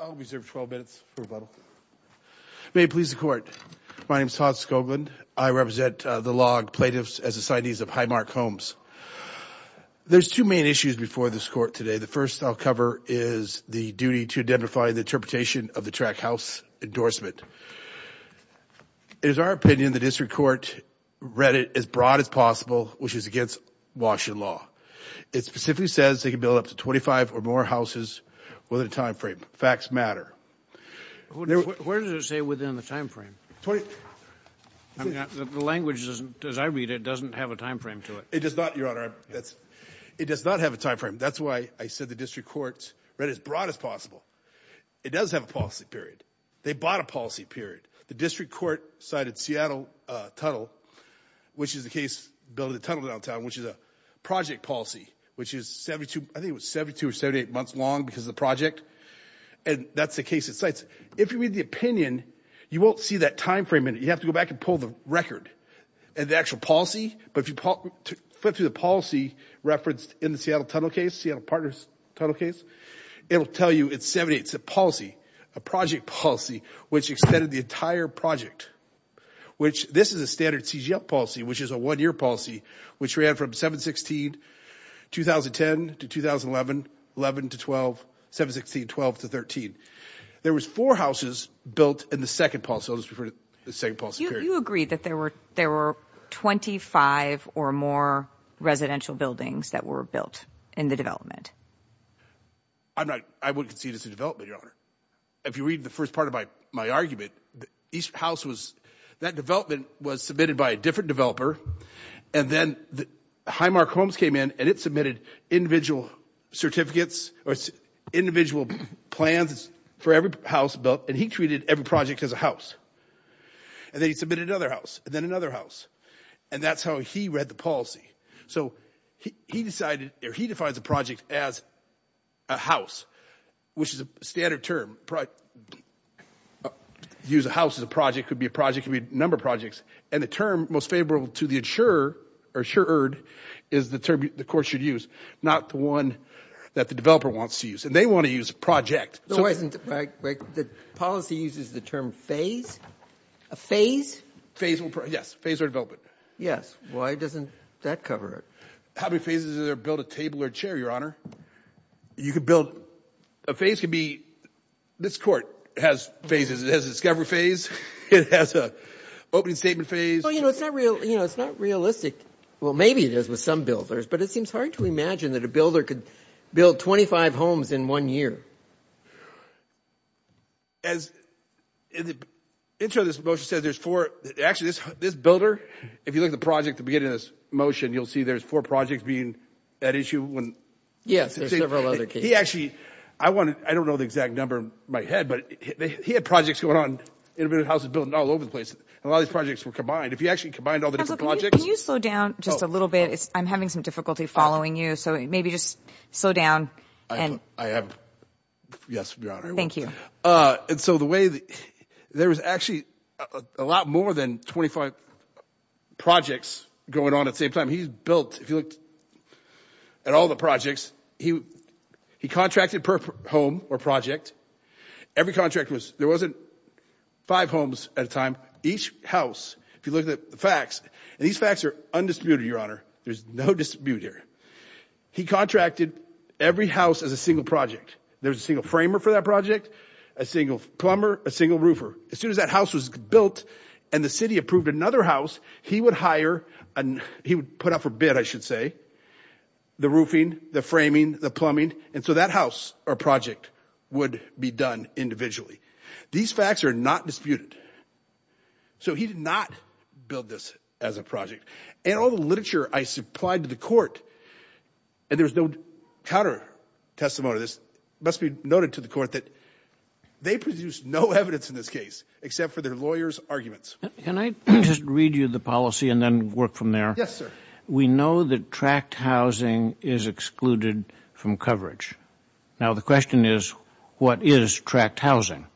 I'll reserve 12 minutes for rebuttal. May it please the court. My name is Todd Scoglin. I represent the log plaintiffs as assignees of Highmark Homes. There's two main issues before this court today. The first I'll cover is the duty to identify the interpretation of the track house endorsement. It is our opinion the district court read it as broad as possible, which is against Washington law. It specifically says they can build up to 25 or more houses within the time frame. Facts matter. Where does it say within the time frame? The language, as I read it, doesn't have a time frame to it. It does not, your honor. It does not have a time frame. That's why I said the district court read it as broad as possible. It does have a policy period. They bought a policy period. The district court cited Seattle Tunnel, which is the case, built a tunnel downtown, which is a project policy, which is 72 or 78 months long because of the project. And that's the case it cites. If you read the opinion, you won't see that time frame in it. You have to go back and pull the record and the actual policy. But if you flip through the policy referenced in the Seattle Tunnel case, Seattle Partners Tunnel case, it'll tell you it's 78. It's a policy, a project policy, which extended the entire project, which this is a standard CGF policy, which is a one-year policy, which ran from 7-16, 2010 to 2011, 11 to 12, 7-16, 12 to 13. There was four houses built in the second policy period. You agree that there were 25 or more residential buildings that were built in the development? I would concede it's a development, your honor. If you read the first part of my argument, each house was, that development was submitted by a different developer, and then Highmark Homes came in and it submitted individual certificates or individual plans for every house built, and he treated every project as a house. And then he submitted another house and then another house. And that's how he read the policy. So he decided, or he defines a project as a house, which is a standard term. Use a house as a project, could be a project, could be a number of projects. And the term most favorable to the insurer or insured is the term the court should use, not the one that the developer wants to use. And they want to use project. The policy uses the term phase? A phase? Yes, phase or development. Yes. Why doesn't that cover it? How many phases does it build a table or chair, your honor? You could build, a phase can be, this court has phases. It has a discovery phase. It has a opening statement phase. Well, you know, it's not realistic. Well, maybe it is with some builders, but it seems hard to imagine that a builder could build 25 homes in one year. As in the intro, this motion says there's four, actually this builder, if you look at the project, the beginning of this motion, you'll see there's four projects being at issue when... Yes, there's several other cases. He actually, I want to, I don't know the exact number in my head, but he had projects going on in houses built all over the place. A lot of these projects were combined. If you actually combined all the different projects... Can you slow down just a little bit? I'm having some difficulty following you. So maybe just slow down. I have, yes, your honor. Thank you. And so the way that there was actually a lot more than 25 projects going on at the same time. He's built, if you looked at all the projects, he contracted per home or project. Every contract was, there wasn't five homes at a time. Each house, if you look at the facts and these facts are undisputed, your honor, there's no dispute here. He contracted every house as a single project. There's a single framer for that project, a single plumber, a single roofer. As soon as that house was built and the city approved another house, he would hire, he would put up a bid, I should say, the roofing, the framing, the plumbing. And so that house or project would be done individually. These facts are not disputed. So he did not build this as a project. And all the literature I supplied to the court and there was no counter testimony to this. It must be noted to the court that they produced no evidence in this case except for their lawyers' arguments. Can I just read you the policy and then work from there? Yes, sir. We know that tract housing is excluded from coverage. Now the question is, what is tract housing?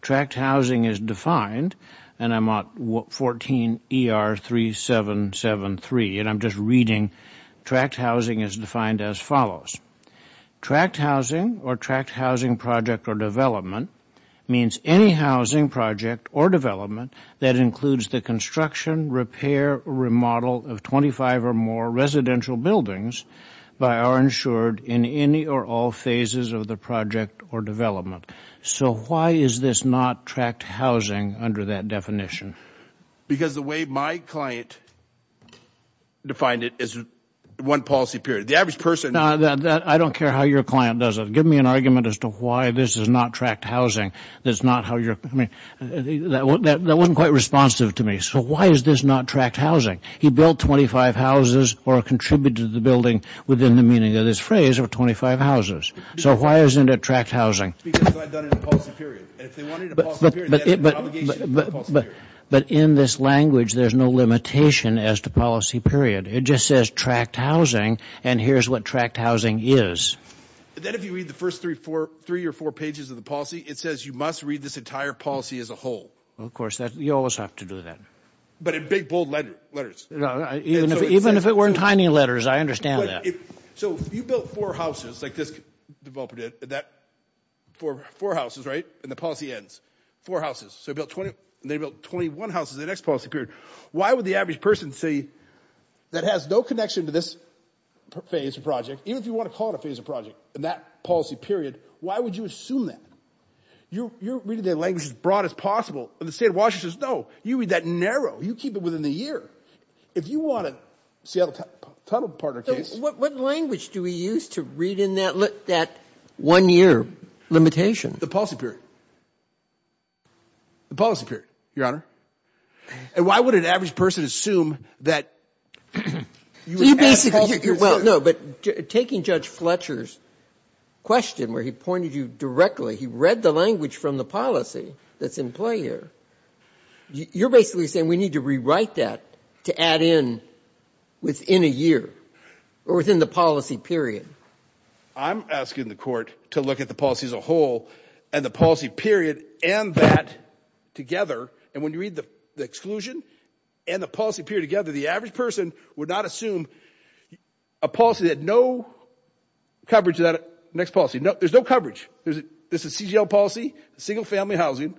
Tract housing is defined, and I'm on 14 ER 3773, and I'm just reading, tract housing is defined as follows. Tract housing or tract housing project or development means any housing project or development that includes the construction, repair, remodel of 25 or more buildings by our insured in any or all phases of the project or development. So why is this not tract housing under that definition? Because the way my client defined it is one policy period. The average person... No, I don't care how your client does it. Give me an argument as to why this is not tract housing. That's not how you're, I mean, that wasn't quite responsive to me. So why is this not housing? He built 25 houses or contributed to the building within the meaning of this phrase of 25 houses. So why isn't it tract housing? Because I've done it in a policy period. But in this language, there's no limitation as to policy period. It just says tract housing, and here's what tract housing is. But then if you read the first three or four pages of the policy, it says you must read this entire policy as a whole. Of course, you always have to do that. But in big, bold letters. Even if it were in tiny letters, I understand that. So you built four houses like this developer did that for four houses, right? And the policy ends four houses. So they built 21 houses in the next policy period. Why would the average person say that has no connection to this phase of project? Even if you want to call it a phase of project in that policy period, why would you assume that? You're reading the language as broad as possible. And the state of Washington says, you read that narrow, you keep it within the year. If you want a Seattle tunnel partner case. What language do we use to read in that one year limitation? The policy period. The policy period, Your Honor. And why would an average person assume that? Taking Judge Fletcher's question where he pointed you directly, he read the language from the policy that's in play here. You're basically saying we need to rewrite that to add in within a year or within the policy period. I'm asking the court to look at the policy as a whole and the policy period and that together. And when you read the exclusion and the policy period together, the average person would not assume a policy that no coverage of that next policy. There's no coverage. This is CGL policy, single family housing,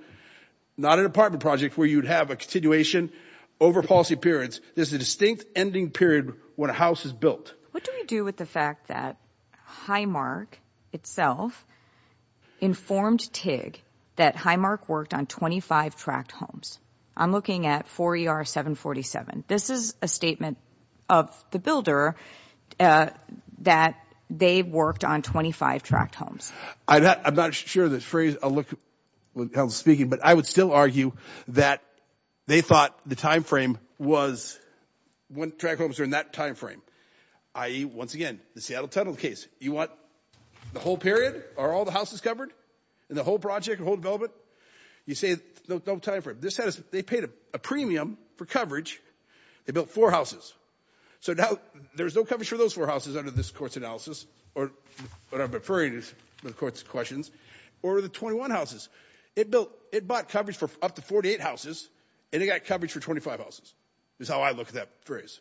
not an apartment project where you'd have a continuation over policy periods. There's a distinct ending period when a house is built. What do we do with the fact that Highmark itself informed TIG that Highmark worked on 25 tract homes? I'm looking at 4ER-747. This is a statement of the builder that they've worked on 25 tract homes. I'm not sure of the phrase. I'll look at how it's speaking. But I would still argue that they thought the time frame was when tract homes are in that time frame. I, once again, the Seattle Tunnel case, you want the whole period or all the houses covered and the whole project, the whole development? You say no time frame. They paid a premium for coverage. They built four houses. So now there's no coverage for those four houses under this court's analysis, or what I'm referring to is the court's questions, or the 21 houses. It built, it bought coverage for up to 48 houses, and it got coverage for 25 houses, is how I look at that phrase.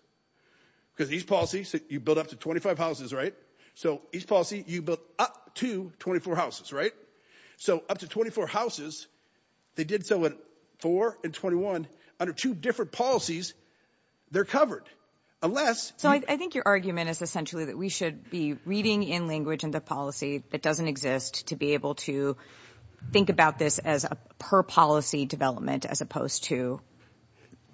Because these policies, you build up to 25 houses, right? So each policy, you built up to 24 houses, right? So up to 24 houses, they did so in 4 and 21, under two different policies, they're covered. Unless... I think your argument is essentially that we should be reading in language and the policy that doesn't exist to be able to think about this as a per policy development as opposed to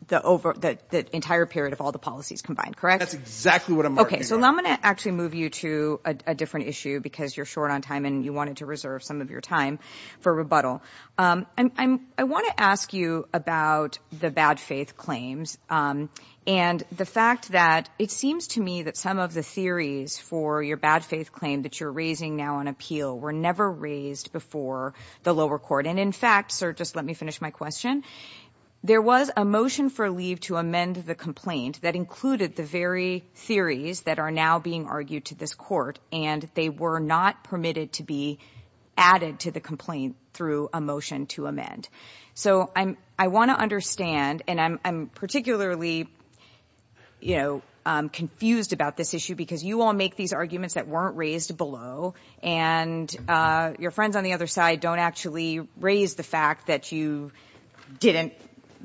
the entire period of all the policies combined, correct? That's exactly what I'm working on. Okay. So now I'm going to actually move you to a different issue because you're short on time and you wanted to reserve some of your time for rebuttal. I want to ask you about the bad faith claims. And the fact that it seems to me that some of the theories for your bad faith claim that you're raising now on appeal were never raised before the lower court. And in fact, sir, just let me finish my question. There was a motion for leave to amend the complaint that included the very theories that are now being argued to this court, and they were not permitted to be added to the complaint through a motion to amend. So I want to understand, and I'm particularly confused about this issue because you all make these arguments that weren't raised below and your friends on the other side don't actually raise the fact that you didn't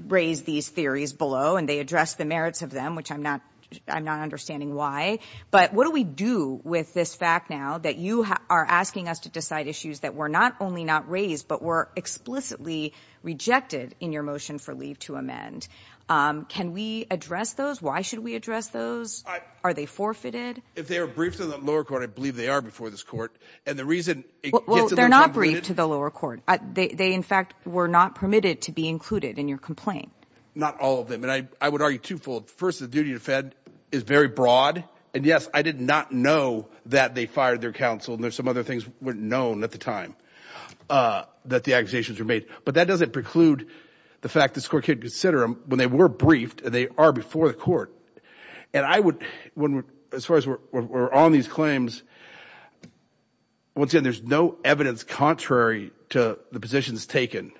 raise these theories below and they address the merits of them, which I'm not understanding why. But what do we do with this fact now that you are asking us to decide issues that were not only not raised, but were explicitly rejected in your motion for leave to amend? Can we address those? Why should we address those? Are they forfeited? If they were briefed in the lower court, I believe they are before this court. And the reason they're not briefed to the lower court, they in fact, were not permitted to be included in your complaint. Not all of them. And I would argue first the duty to defend is very broad. And yes, I did not know that they fired their counsel. And there's some other things weren't known at the time that the accusations were made, but that doesn't preclude the fact that this court can't consider them when they were briefed and they are before the court. And I would, as far as we're on these claims, once again, there's no evidence contrary to the positions taken.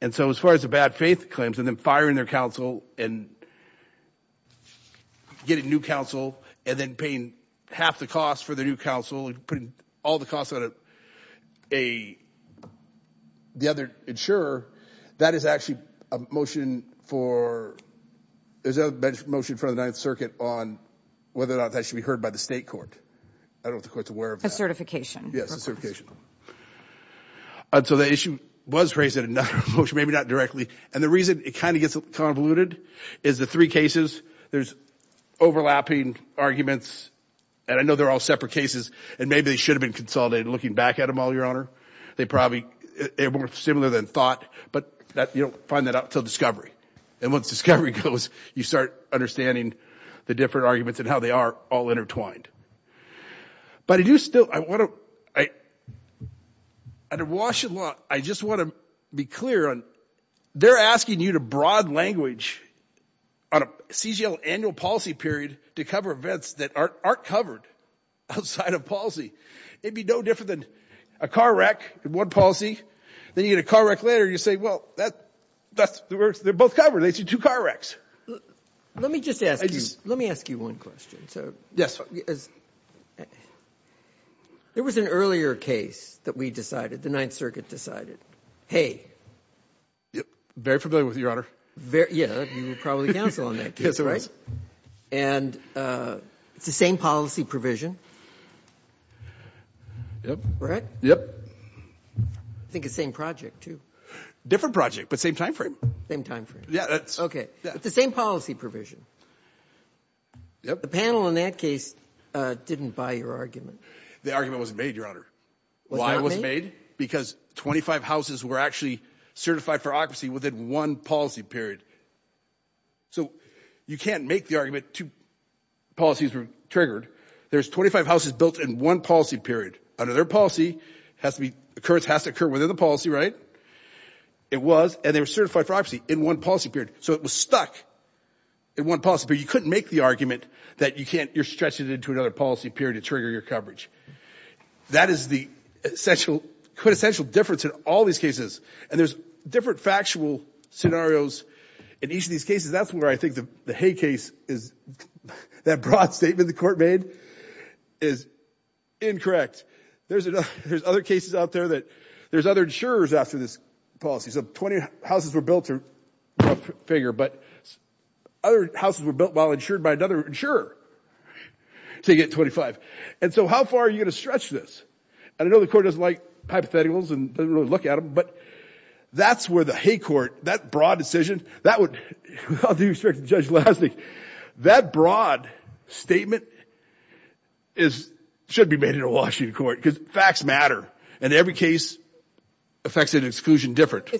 And so as far as the bad faith claims and then firing their counsel and getting new counsel and then paying half the cost for the new counsel and putting all the costs on a, the other insurer, that is actually a motion for, there's a motion in front of the ninth circuit on whether or not that should be heard by the state court. I don't know if the court's aware of that. A certification. Yes, a certification. And so the issue was raised in another motion, maybe not directly. And the reason it kind of gets convoluted is the three cases, there's overlapping arguments. And I know they're all separate cases and maybe they should have been consolidated looking back at them all, Your Honor. They probably are more similar than thought, but that you don't find that out until discovery. And once discovery goes, you start understanding the different arguments and how they are all at a Washington law. I just want to be clear on, they're asking you to broad language on a CGL annual policy period to cover events that aren't covered outside of policy. It'd be no different than a car wreck in one policy. Then you get a car wreck later. You say, well, that, that's the worst. They're both covered. They see two car wrecks. Let me just ask you, let me ask you one question. So yes, there was an earlier case that we decided the ninth circuit decided, Hey, very familiar with your honor. Very. Yeah. You were probably counsel on that case, right? And, uh, it's the same policy provision, right? Yep. I think it's same project too. Different project, but same timeframe. Same timeframe. Okay. It's the same policy provision. Yep. The panel in that case, uh, didn't buy your argument. The argument wasn't made your honor. Why it wasn't made because 25 houses were actually certified for occupancy within one policy period. So you can't make the argument to policies were triggered. There's 25 houses built in one policy period under their policy has to be occurrence has to occur within the policy, right? It was, and they were certified for occupancy in one policy period. So it was stuck in one policy, but you couldn't make the argument that you can't, you're stretching it into another policy period to trigger your coverage. That is the essential, quintessential difference in all these cases. And there's different factual scenarios in each of these cases. That's where I think the hay case is that broad statement. The court made is incorrect. There's another, there's other cases out there that there's other insurers after this policy. So 20 houses were rough figure, but other houses were built while insured by another insurer to get 25. And so how far are you going to stretch this? And I know the court doesn't like hypotheticals and doesn't really look at them, but that's where the hay court, that broad decision, that would, I'll do you a favor, Judge Lasnik, that broad statement is, should be made in a Washington court because facts matter and every case affects an exclusion different.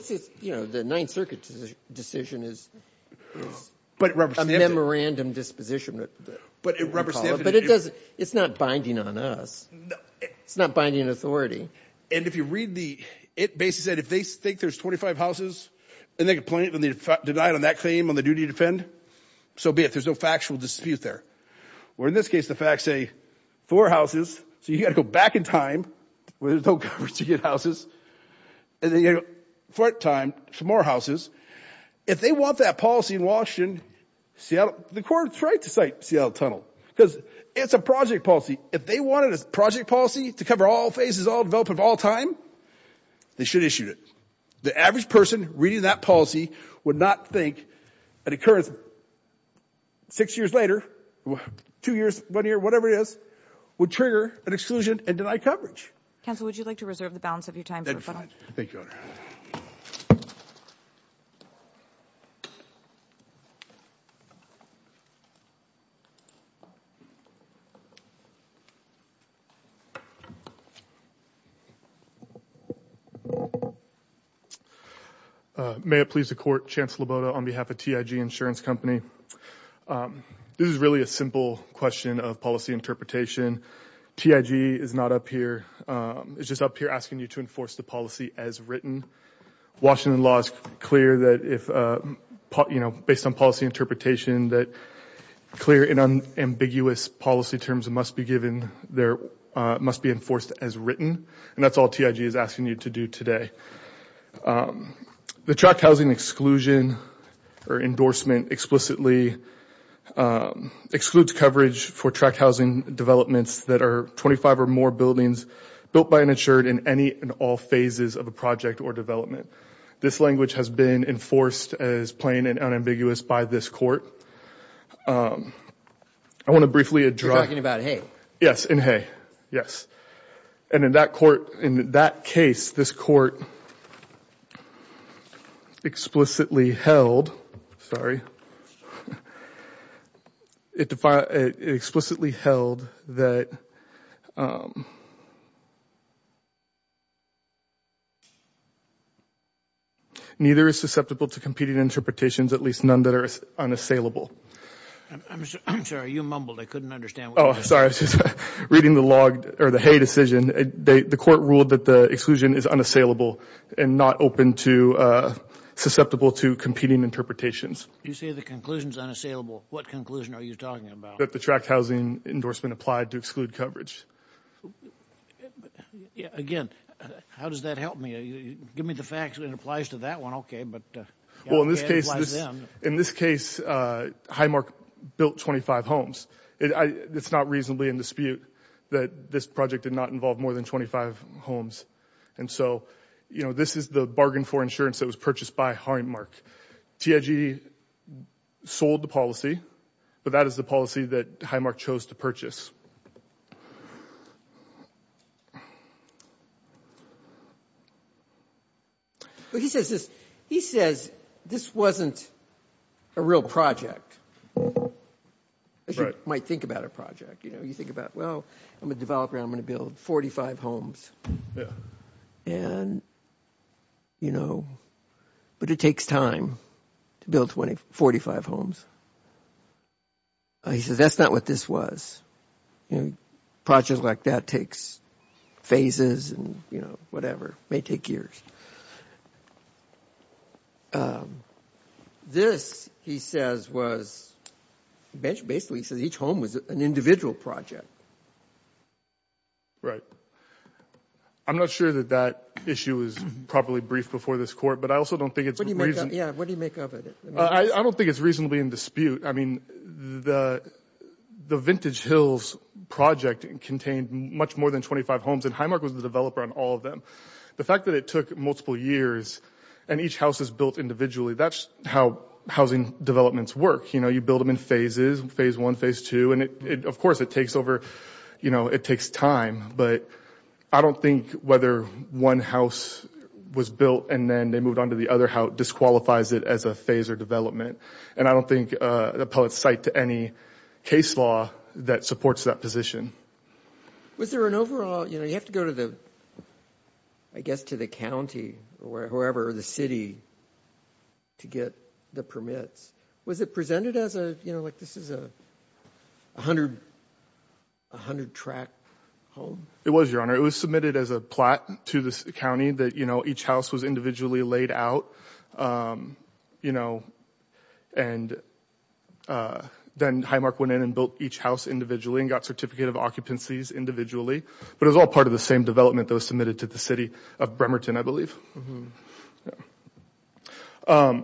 You know, the ninth circuit decision is a memorandum disposition, but it doesn't, it's not binding on us. It's not binding authority. And if you read the, it basically said, if they think there's 25 houses and they can point it on the, deny it on that claim on the duty to defend, so be it. There's no factual dispute there. Where in this case, the facts say four houses. So you got to go back in time where there's no coverage to get houses. And then you got to go forward in time, some more houses. If they want that policy in Washington, Seattle, the court's right to cite Seattle Tunnel because it's a project policy. If they wanted a project policy to cover all phases, all development of all time, they should issue it. The average person reading that policy would not think an occurrence six years later, two years, one year, whatever it is, would trigger an exclusion and deny coverage. Counsel, would you like to reserve the balance of your time? Thank you, ma'am. May it please the court, Chancellor Loboto on behalf of TIG insurance company. This is really a simple question of policy interpretation. TIG is not up here. It's just up here asking you to enforce the policy as written. Washington law is clear that if, you know, based on policy interpretation that clear and unambiguous policy terms must be given there, must be enforced as written. And that's all TIG is asking you to do today. The tract housing exclusion or endorsement explicitly excludes coverage for tract housing developments that are 25 or more buildings built by an insured in any and all phases of a project or development. This language has been enforced as plain and unambiguous by this court. I want to briefly address. You're talking about Hay. Yes, in Hay. Yes. And in that court, in that case, this court explicitly held, sorry, it explicitly held that um, neither is susceptible to competing interpretations, at least none that are unassailable. I'm sorry, you mumbled. I couldn't understand. Oh, sorry. I was just reading the log or the Hay decision. The court ruled that the exclusion is unassailable and not open to susceptible to competing interpretations. You say the conclusion is unassailable. What conclusion are you talking about? The tract housing endorsement applied to exclude coverage. Again, how does that help me? Give me the facts and it applies to that one. Okay. But well, in this case, in this case, uh, Highmark built 25 homes. It's not reasonably in dispute that this project did not involve more than 25 homes. And so, you know, this is the bargain for insurance that was purchased by Highmark. TIG sold the policy, but that is the policy that Highmark chose to purchase. But he says this, he says this wasn't a real project. As you might think about a project, you know, you think about, well, I'm a developer. I'm going to build 45 homes. Yeah. And, you know, but it takes time to build 40, 45 homes. He says, that's not what this was. Projects like that takes phases and, you know, whatever may take years. This, he says, was basically, he says each home was an individual project. Right. I'm not sure that that issue is properly brief before this court, I also don't think it's reasonable. Yeah. What do you make of it? I don't think it's reasonably in dispute. I mean, the, the Vintage Hills project contained much more than 25 homes and Highmark was the developer on all of them. The fact that it took multiple years and each house is built individually, that's how housing developments work. You know, you build them in phases, phase one, phase two. And it, of course it takes over, you know, it takes time, but I don't think whether one house was built and then they moved on to the other, how it disqualifies it as a phase or development. And I don't think the appellate's cite to any case law that supports that position. Was there an overall, you know, you have to go to the, I guess, to the county or whoever, the city to get the permits. Was it presented as a, you know, like this is a 100, 100 track home? It was, your honor. It was submitted as a plat to the county that, you know, each house was individually laid out, you know, and then Highmark went in and built each house individually and got certificate of occupancies individually. But it was all part of the same development that was submitted to the city of Bremerton, I believe. Yeah.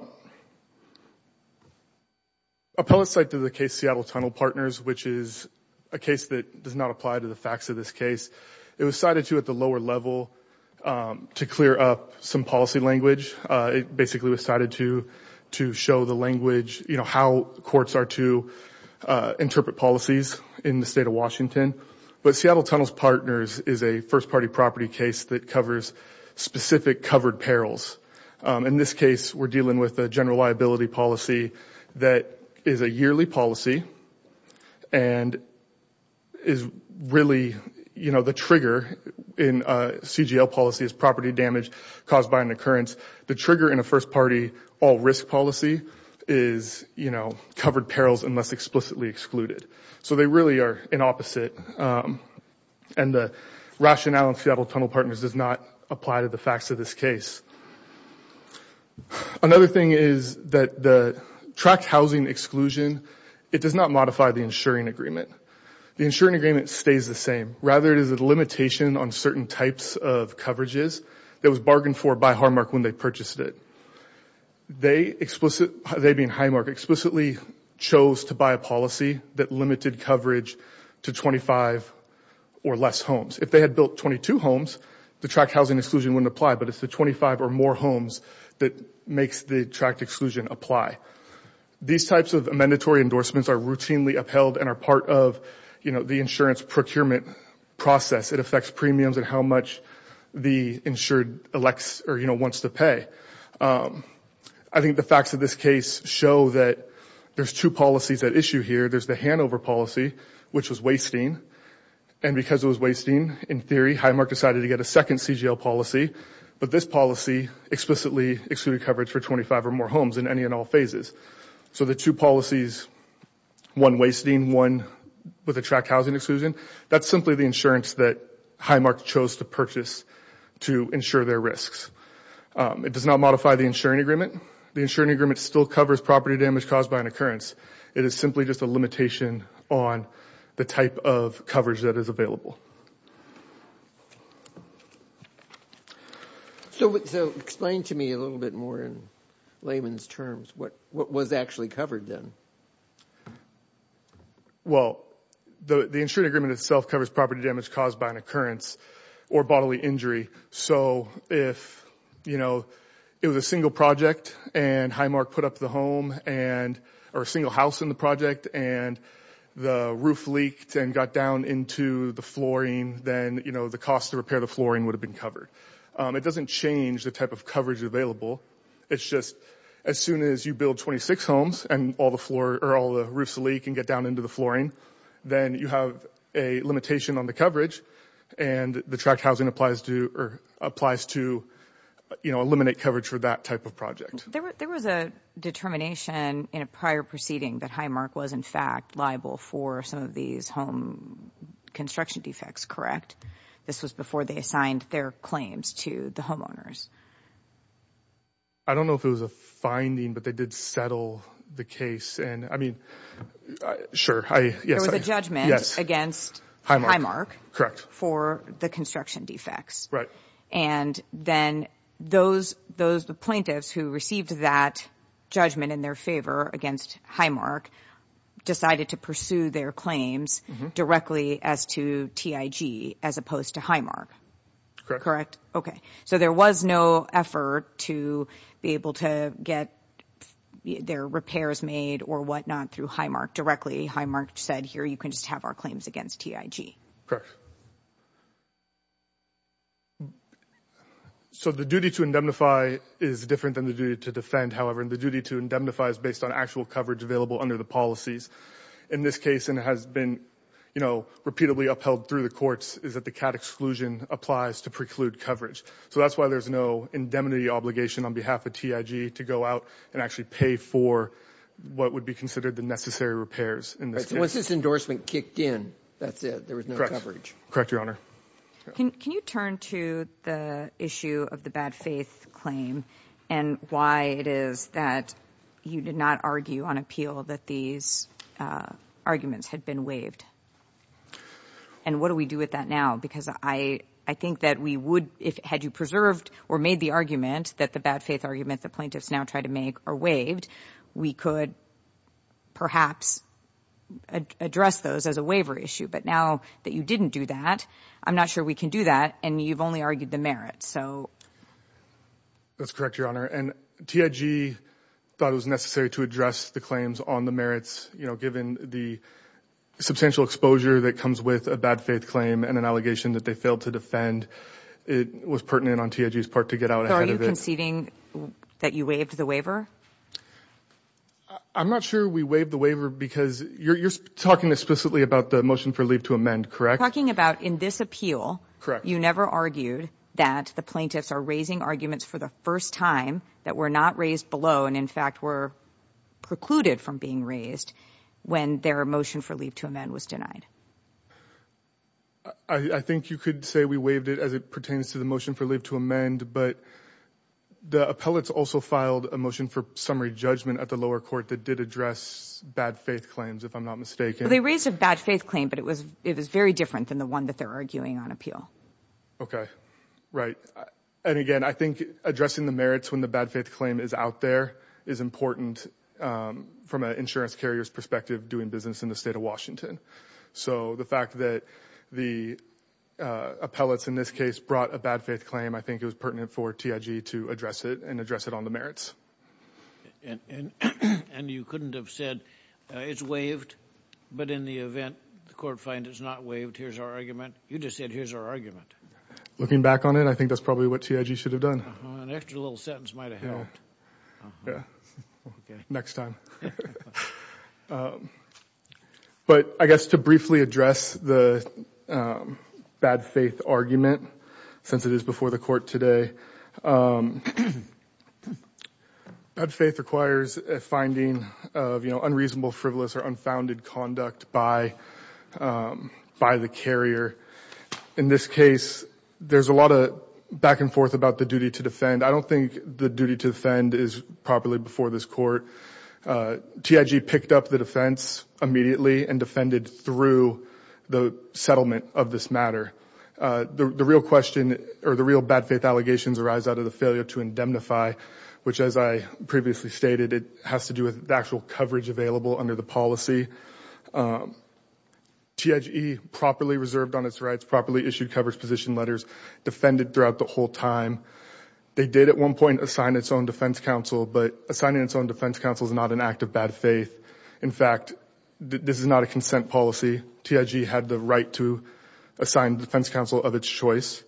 Appellate's cite to the case Seattle Tunnel Partners, which is a case that does not apply to the facts of this case. It was cited to at the lower level to clear up some policy language. It basically was cited to, to show the language, you know, how courts are to interpret policies in the state of Washington. But Seattle Tunnels Partners is a first party property case that covers specific covered perils. In this case, we're dealing with a general liability policy that is a yearly policy and is really, you know, the trigger in a CGL policy is property damage caused by an occurrence. The trigger in a first party all risk policy is, you know, covered perils unless explicitly excluded. So they really are an opposite. And the rationale in Seattle Tunnel Partners does not apply to the facts of this case. Another thing is that the tract housing exclusion, it does not modify the insuring agreement. The insuring agreement stays the same. Rather, it is a limitation on certain types of coverages that was bargained for by Highmark when they purchased it. They explicitly, they being Highmark, explicitly chose to buy a policy that limited coverage to 25 or less homes. If they had built 22 homes, the tract housing exclusion wouldn't apply, but it's the 25 or more homes that makes the tract exclusion apply. These types of mandatory endorsements are routinely upheld and are part of, you know, the insurance procurement process. It affects premiums and how much the insured elects or, you know, wants to pay. I think the facts of this case show that there's two policies at issue here. There's the handover policy, which was wasting. And because it was very high, Highmark decided to get a second CGL policy. But this policy explicitly excluded coverage for 25 or more homes in any and all phases. So the two policies, one wasting, one with a tract housing exclusion, that's simply the insurance that Highmark chose to purchase to ensure their risks. It does not modify the insuring agreement. The insuring agreement still covers property damage caused by an occurrence. It is simply just a limitation on the type of coverage that is available. So explain to me a little bit more in layman's terms what was actually covered then. Well, the insuring agreement itself covers property damage caused by an occurrence or bodily injury. So if, you know, it was a single project and Highmark put up the home and or a single house in the project and the roof leaked and got down into the flooring, then, you know, the cost to repair the flooring would have been covered. It doesn't change the type of coverage available. It's just as soon as you build 26 homes and all the floor or all the roofs leak and get down into the flooring, then you have a limitation on the coverage and the tract housing applies to or applies to, you know, eliminate coverage for that type of project. There was a determination in a prior proceeding that Highmark was in fact liable for some of these home construction defects, correct? This was before they assigned their claims to the homeowners. I don't know if it was a finding, but they did settle the case. And I mean, sure. There was a judgment against Highmark for the construction defects. And then those plaintiffs who received that judgment in their favor against Highmark decided to pursue their claims directly as to TIG as opposed to Highmark, correct? Okay. So there was no effort to be able to get their repairs made or whatnot through Highmark directly. Highmark said here you can have our claims against TIG. Correct. So the duty to indemnify is different than the duty to defend. However, the duty to indemnify is based on actual coverage available under the policies in this case. And it has been, you know, repeatedly upheld through the courts is that the CAD exclusion applies to preclude coverage. So that's why there's no indemnity obligation on behalf of TIG to go out and pay for what would be considered the necessary repairs in this case. Once this endorsement kicked in, that's it. There was no coverage. Correct, Your Honor. Can you turn to the issue of the bad faith claim and why it is that you did not argue on appeal that these arguments had been waived? And what do we do with that now? Because I think that we would, had you preserved or made the argument that the bad faith argument the plaintiffs now try to make are waived, we could perhaps address those as a waiver issue. But now that you didn't do that, I'm not sure we can do that. And you've only argued the merit. So. That's correct, Your Honor. And TIG thought it was necessary to address the claims on the merits, you know, given the substantial exposure that comes with a bad faith claim and an allegation that they failed to defend. It was pertinent on TIG's part to get out ahead of it. That you waived the waiver? I'm not sure we waived the waiver because you're talking explicitly about the motion for leave to amend, correct? Talking about in this appeal. Correct. You never argued that the plaintiffs are raising arguments for the first time that were not raised below and in fact were precluded from being raised when their motion for leave to amend was denied. I think you could say we waived it as it pertains to the motion for leave to amend, but the appellates also filed a motion for summary judgment at the lower court that did address bad faith claims, if I'm not mistaken. They raised a bad faith claim, but it was it was very different than the one that they're arguing on appeal. Okay, right. And again, I think addressing the merits when the bad faith claim is out there is important from an insurance carrier's perspective doing business in the state of Washington. So the fact that the appellates in this case brought a bad faith claim, I think it was pertinent for TIG to address it and address it on the merits. And you couldn't have said it's waived, but in the event the court find it's not waived, here's our argument. You just said here's our argument. Looking back on it, I think that's probably what TIG should have done. An extra little sentence might have helped. Yeah, next time. But I guess to briefly address the bad faith argument, since it is before the court today, bad faith requires a finding of unreasonable, frivolous or unfounded conduct by the carrier. In this case, there's a lot of back and forth about the duty to defend. I don't think the duty to defend is properly before this court. TIG picked up the defense immediately and defended through the settlement of this matter. The real question or the real bad faith allegations arise out of the failure to indemnify, which as I previously stated, it has to do with the actual coverage available under the policy. TIG properly reserved on its rights, properly issued coverage position letters, defended throughout the whole time. They did at one point assign its own defense counsel, but assigning its own defense counsel is not an act of bad faith. In fact, this is not a consent policy. TIG had the right to assign defense counsel of its choice.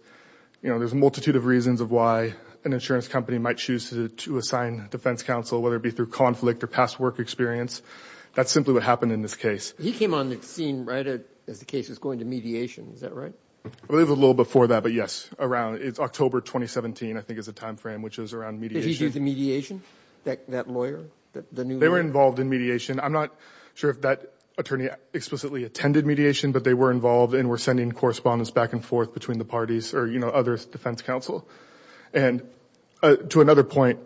You know, there's a multitude of reasons of why an insurance company might choose to assign defense counsel, whether it be through conflict or past work experience. That's simply what happened in this case. He came on the scene right as the case was going to mediation. Is that right? I believe a little before that, but yes, around. It's October 2017, I think is the time frame, which is around mediation. Did he do the mediation, that lawyer? They were involved in mediation. I'm not sure if that attorney explicitly attended mediation, but they were involved and were sending correspondence back and forth between the parties or other defense counsel. And to another point,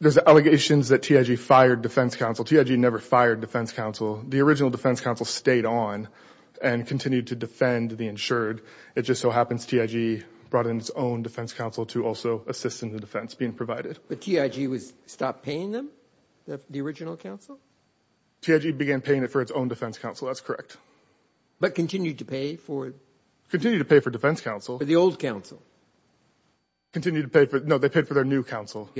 there's allegations that TIG fired defense counsel. TIG never fired defense counsel. The original defense counsel stayed on and continued to defend the insured. It just so happens TIG brought in its own defense counsel to also assist in the defense, But TIG stopped paying them, the original counsel? TIG began paying it for its own defense counsel. That's correct. But continued to pay for it? Continued to pay for defense counsel. For the old counsel. Continued to pay for it. No, they paid for their new counsel.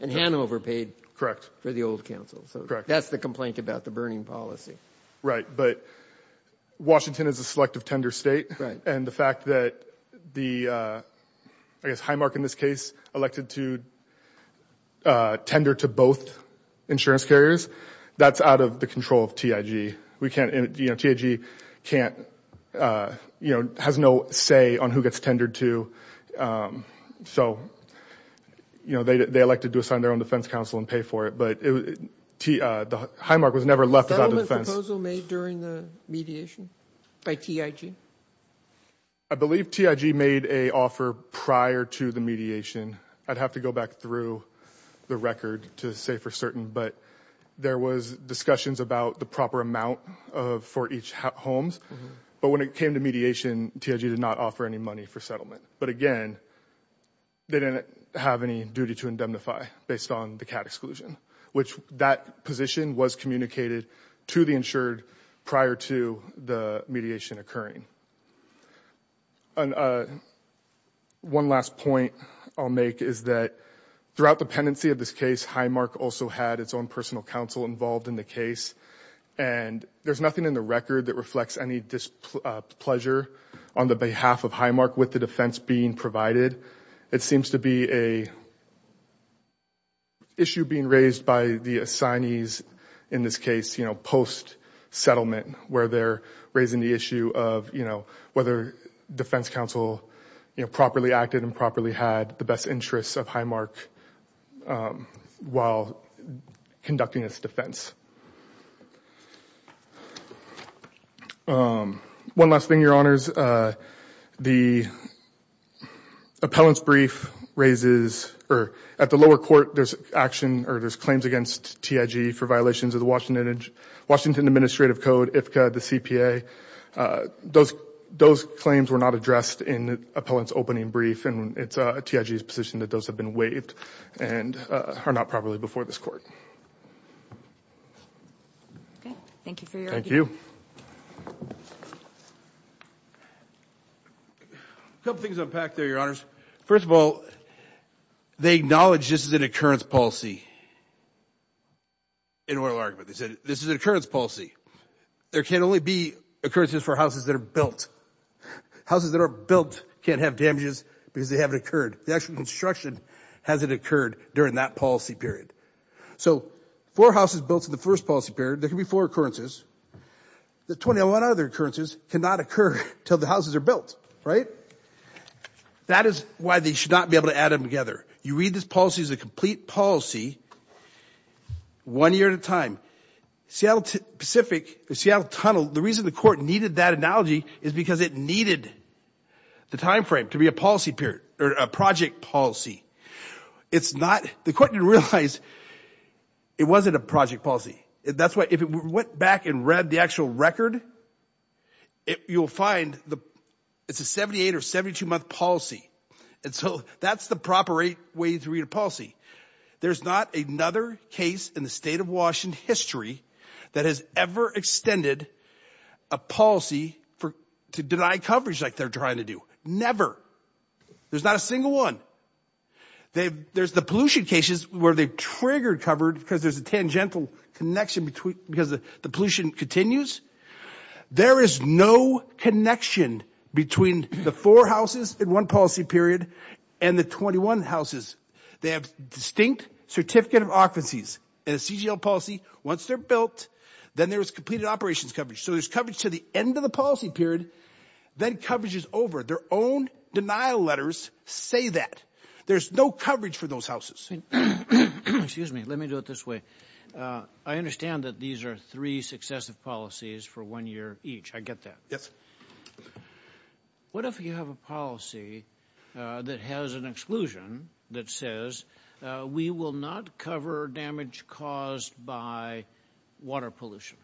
And Hanover paid for the old counsel. So that's the complaint about the burning policy. Right. But Washington is a selective tender state. And the fact that the, I guess, Highmark in this case elected to tender to both insurance carriers, that's out of the control of TIG. We can't, you know, TIG can't, you know, has no say on who gets tendered to. So, you know, they elected to assign their own defense counsel and pay for it. But the Highmark was never left without a defense. Was there a settlement proposal made during the mediation by TIG? I believe TIG made a offer prior to the mediation. I'd have to go back through the record to say for certain. But there was discussions about the proper amount for each homes. But when it came to mediation, TIG did not offer any money for settlement. But again, they didn't have any duty to indemnify based on the CAT exclusion, which that position was communicated to the insured prior to the mediation occurring. And one last point I'll make is that throughout the pendency of this case, Highmark also had its own personal counsel involved in the case. And there's nothing in the record that reflects any displeasure on the behalf of Highmark with the defense being provided. It seems to be an issue being raised by the assignees in this case, you know, post-settlement, where they're raising the issue of, you know, whether defense counsel, you know, properly acted and properly had the best interests of Highmark while conducting its defense. One last thing, your honors. The appellant's brief raises, or at the lower court, there's action, or there's claims against TIG for violations of the Washington Administrative Code. IPCA, the CPA, those claims were not addressed in the appellant's opening brief, and it's TIG's position that those have been waived and are not properly before this court. Okay. Thank you for your argument. A couple things unpacked there, your honors. First of all, they acknowledge this is an occurrence policy in oral argument. They said this is an occurrence policy. There can only be occurrences for houses that are built. Houses that are built can't have damages because they haven't occurred. The actual construction hasn't occurred during that policy period. So four houses built in the first policy period, there can be four occurrences. The 21 other occurrences cannot occur until the houses are built, right? That is why they should not be able to add them together. You read this policy as a complete policy one year at a time. Seattle Pacific, the Seattle Tunnel, the reason the court needed that analogy is because it needed the timeframe to be a policy period or a project policy. It's not, the court didn't realize it wasn't a project policy. That's why if it went back and read the actual record, you'll find it's a 78 or 72 month policy. And so that's the proper way to read a policy. There's not another case in the state of Washington history that has ever extended a policy to deny coverage like they're trying to do. Never. There's not a single one. There's the pollution cases where they've triggered covered because there's a tangential connection between, because the pollution continues. There is no connection between the four houses in one policy period and the 21 houses. They have distinct certificate of offices and a CGL policy. Once they're built, then there was completed operations coverage. So there's coverage to the end of the policy period, then coverage is over. Their own denial letters say that. There's no coverage for those houses. Excuse me, let me do it this way. I understand that these are three successive policies for one year each. I get that. Yes. What if you have a policy that has an exclusion that says we will not cover damage caused by water pollution?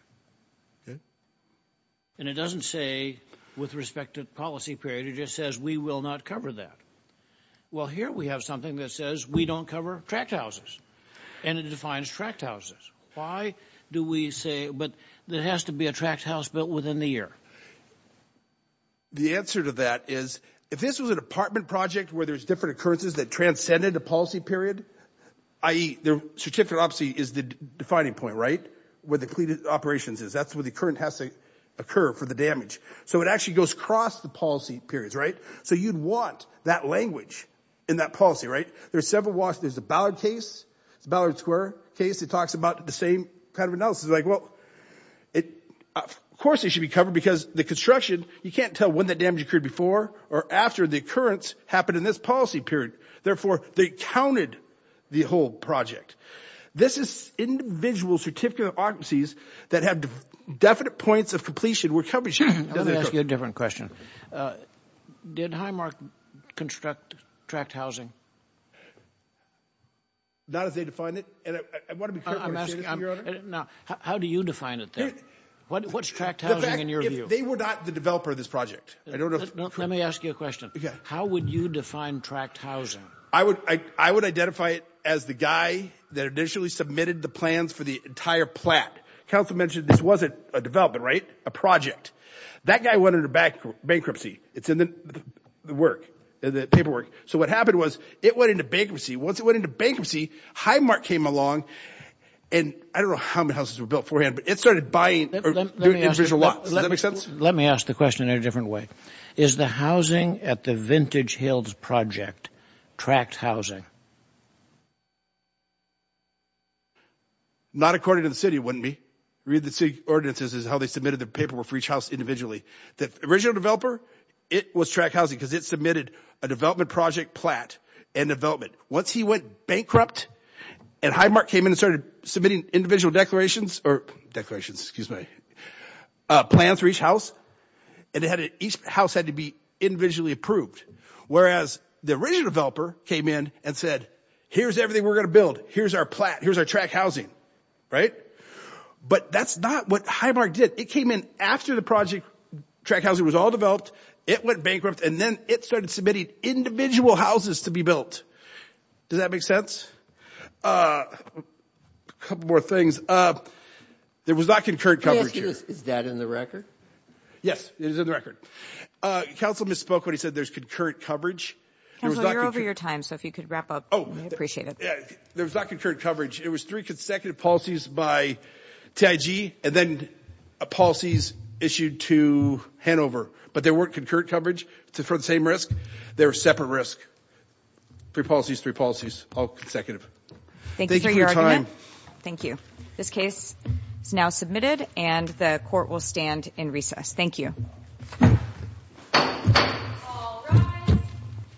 And it doesn't say with respect to policy period, it just says we will not cover that. Well, here we have something that says we don't cover tract houses and it defines tract houses. Why do we say, but there has to be a tract house built within the year. The answer to that is if this was a department project where there's different occurrences that transcended the policy period, i.e. the certificate of office is the defining point, right? Where the completed operations is. That's where the current has to occur for the damage. So it actually goes across the policy periods, right? So you'd want that language in that policy, right? There's several walks. There's a Ballard case. It's a Ballard Square case. It talks about the same kind of analysis. Like, well, of course, it should be covered because the construction, you can't tell when the damage occurred before or after the occurrence happened in this policy period. Therefore, they counted the whole project. This is individual certificate of offices that have definite points of completion where coverage doesn't occur. Let me ask you a different question. Did Highmark construct tract housing? Not as they define it. And I want to be clear, your honor. Now, how do you define it then? What's tract housing in your view? They were not the developer of this project. I don't know. Let me ask you a question. How would you define tract housing? I would identify it as the guy that initially submitted the plans for the entire plat. Council mentioned this wasn't a development, right? A project. That guy went into bankruptcy. It's in the work, the paperwork. So what happened was it went into bankruptcy. Once it went into bankruptcy, Highmark came along. And I don't know how many houses were built beforehand, but it started buying. Let me ask the question in a different way. Is the housing at the Vintage Hills project tract housing? Not according to the city, wouldn't be. Read the city ordinances is how they submitted the paperwork for each house individually. The original developer, it was tract housing because it submitted a development project plat and development. Once he went bankrupt and Highmark came in and started submitting individual declarations or declarations, excuse me, plans for each house and each house had to be individually approved. Whereas the original developer came in and said, here's everything we're going to build. Here's our plat. Here's our tract housing, right? But that's not what Highmark did. It came in after the project tract housing was all developed. It went bankrupt, and then it started submitting individual houses to be built. Does that make sense? A couple more things. There was not concurrent coverage here. Is that in the record? Yes, it is in the record. Council misspoke when he said there's concurrent coverage. Council, you're over your time. So if you could wrap up. Oh, I appreciate it. There was not concurrent coverage. It was three consecutive policies by TIG and then policies issued to Hanover, but there weren't concurrent coverage for the same risk. They were separate risk. Three policies, three policies, all consecutive. Thank you for your argument. Thank you. This case is now submitted and the court will stand in recess. Thank you.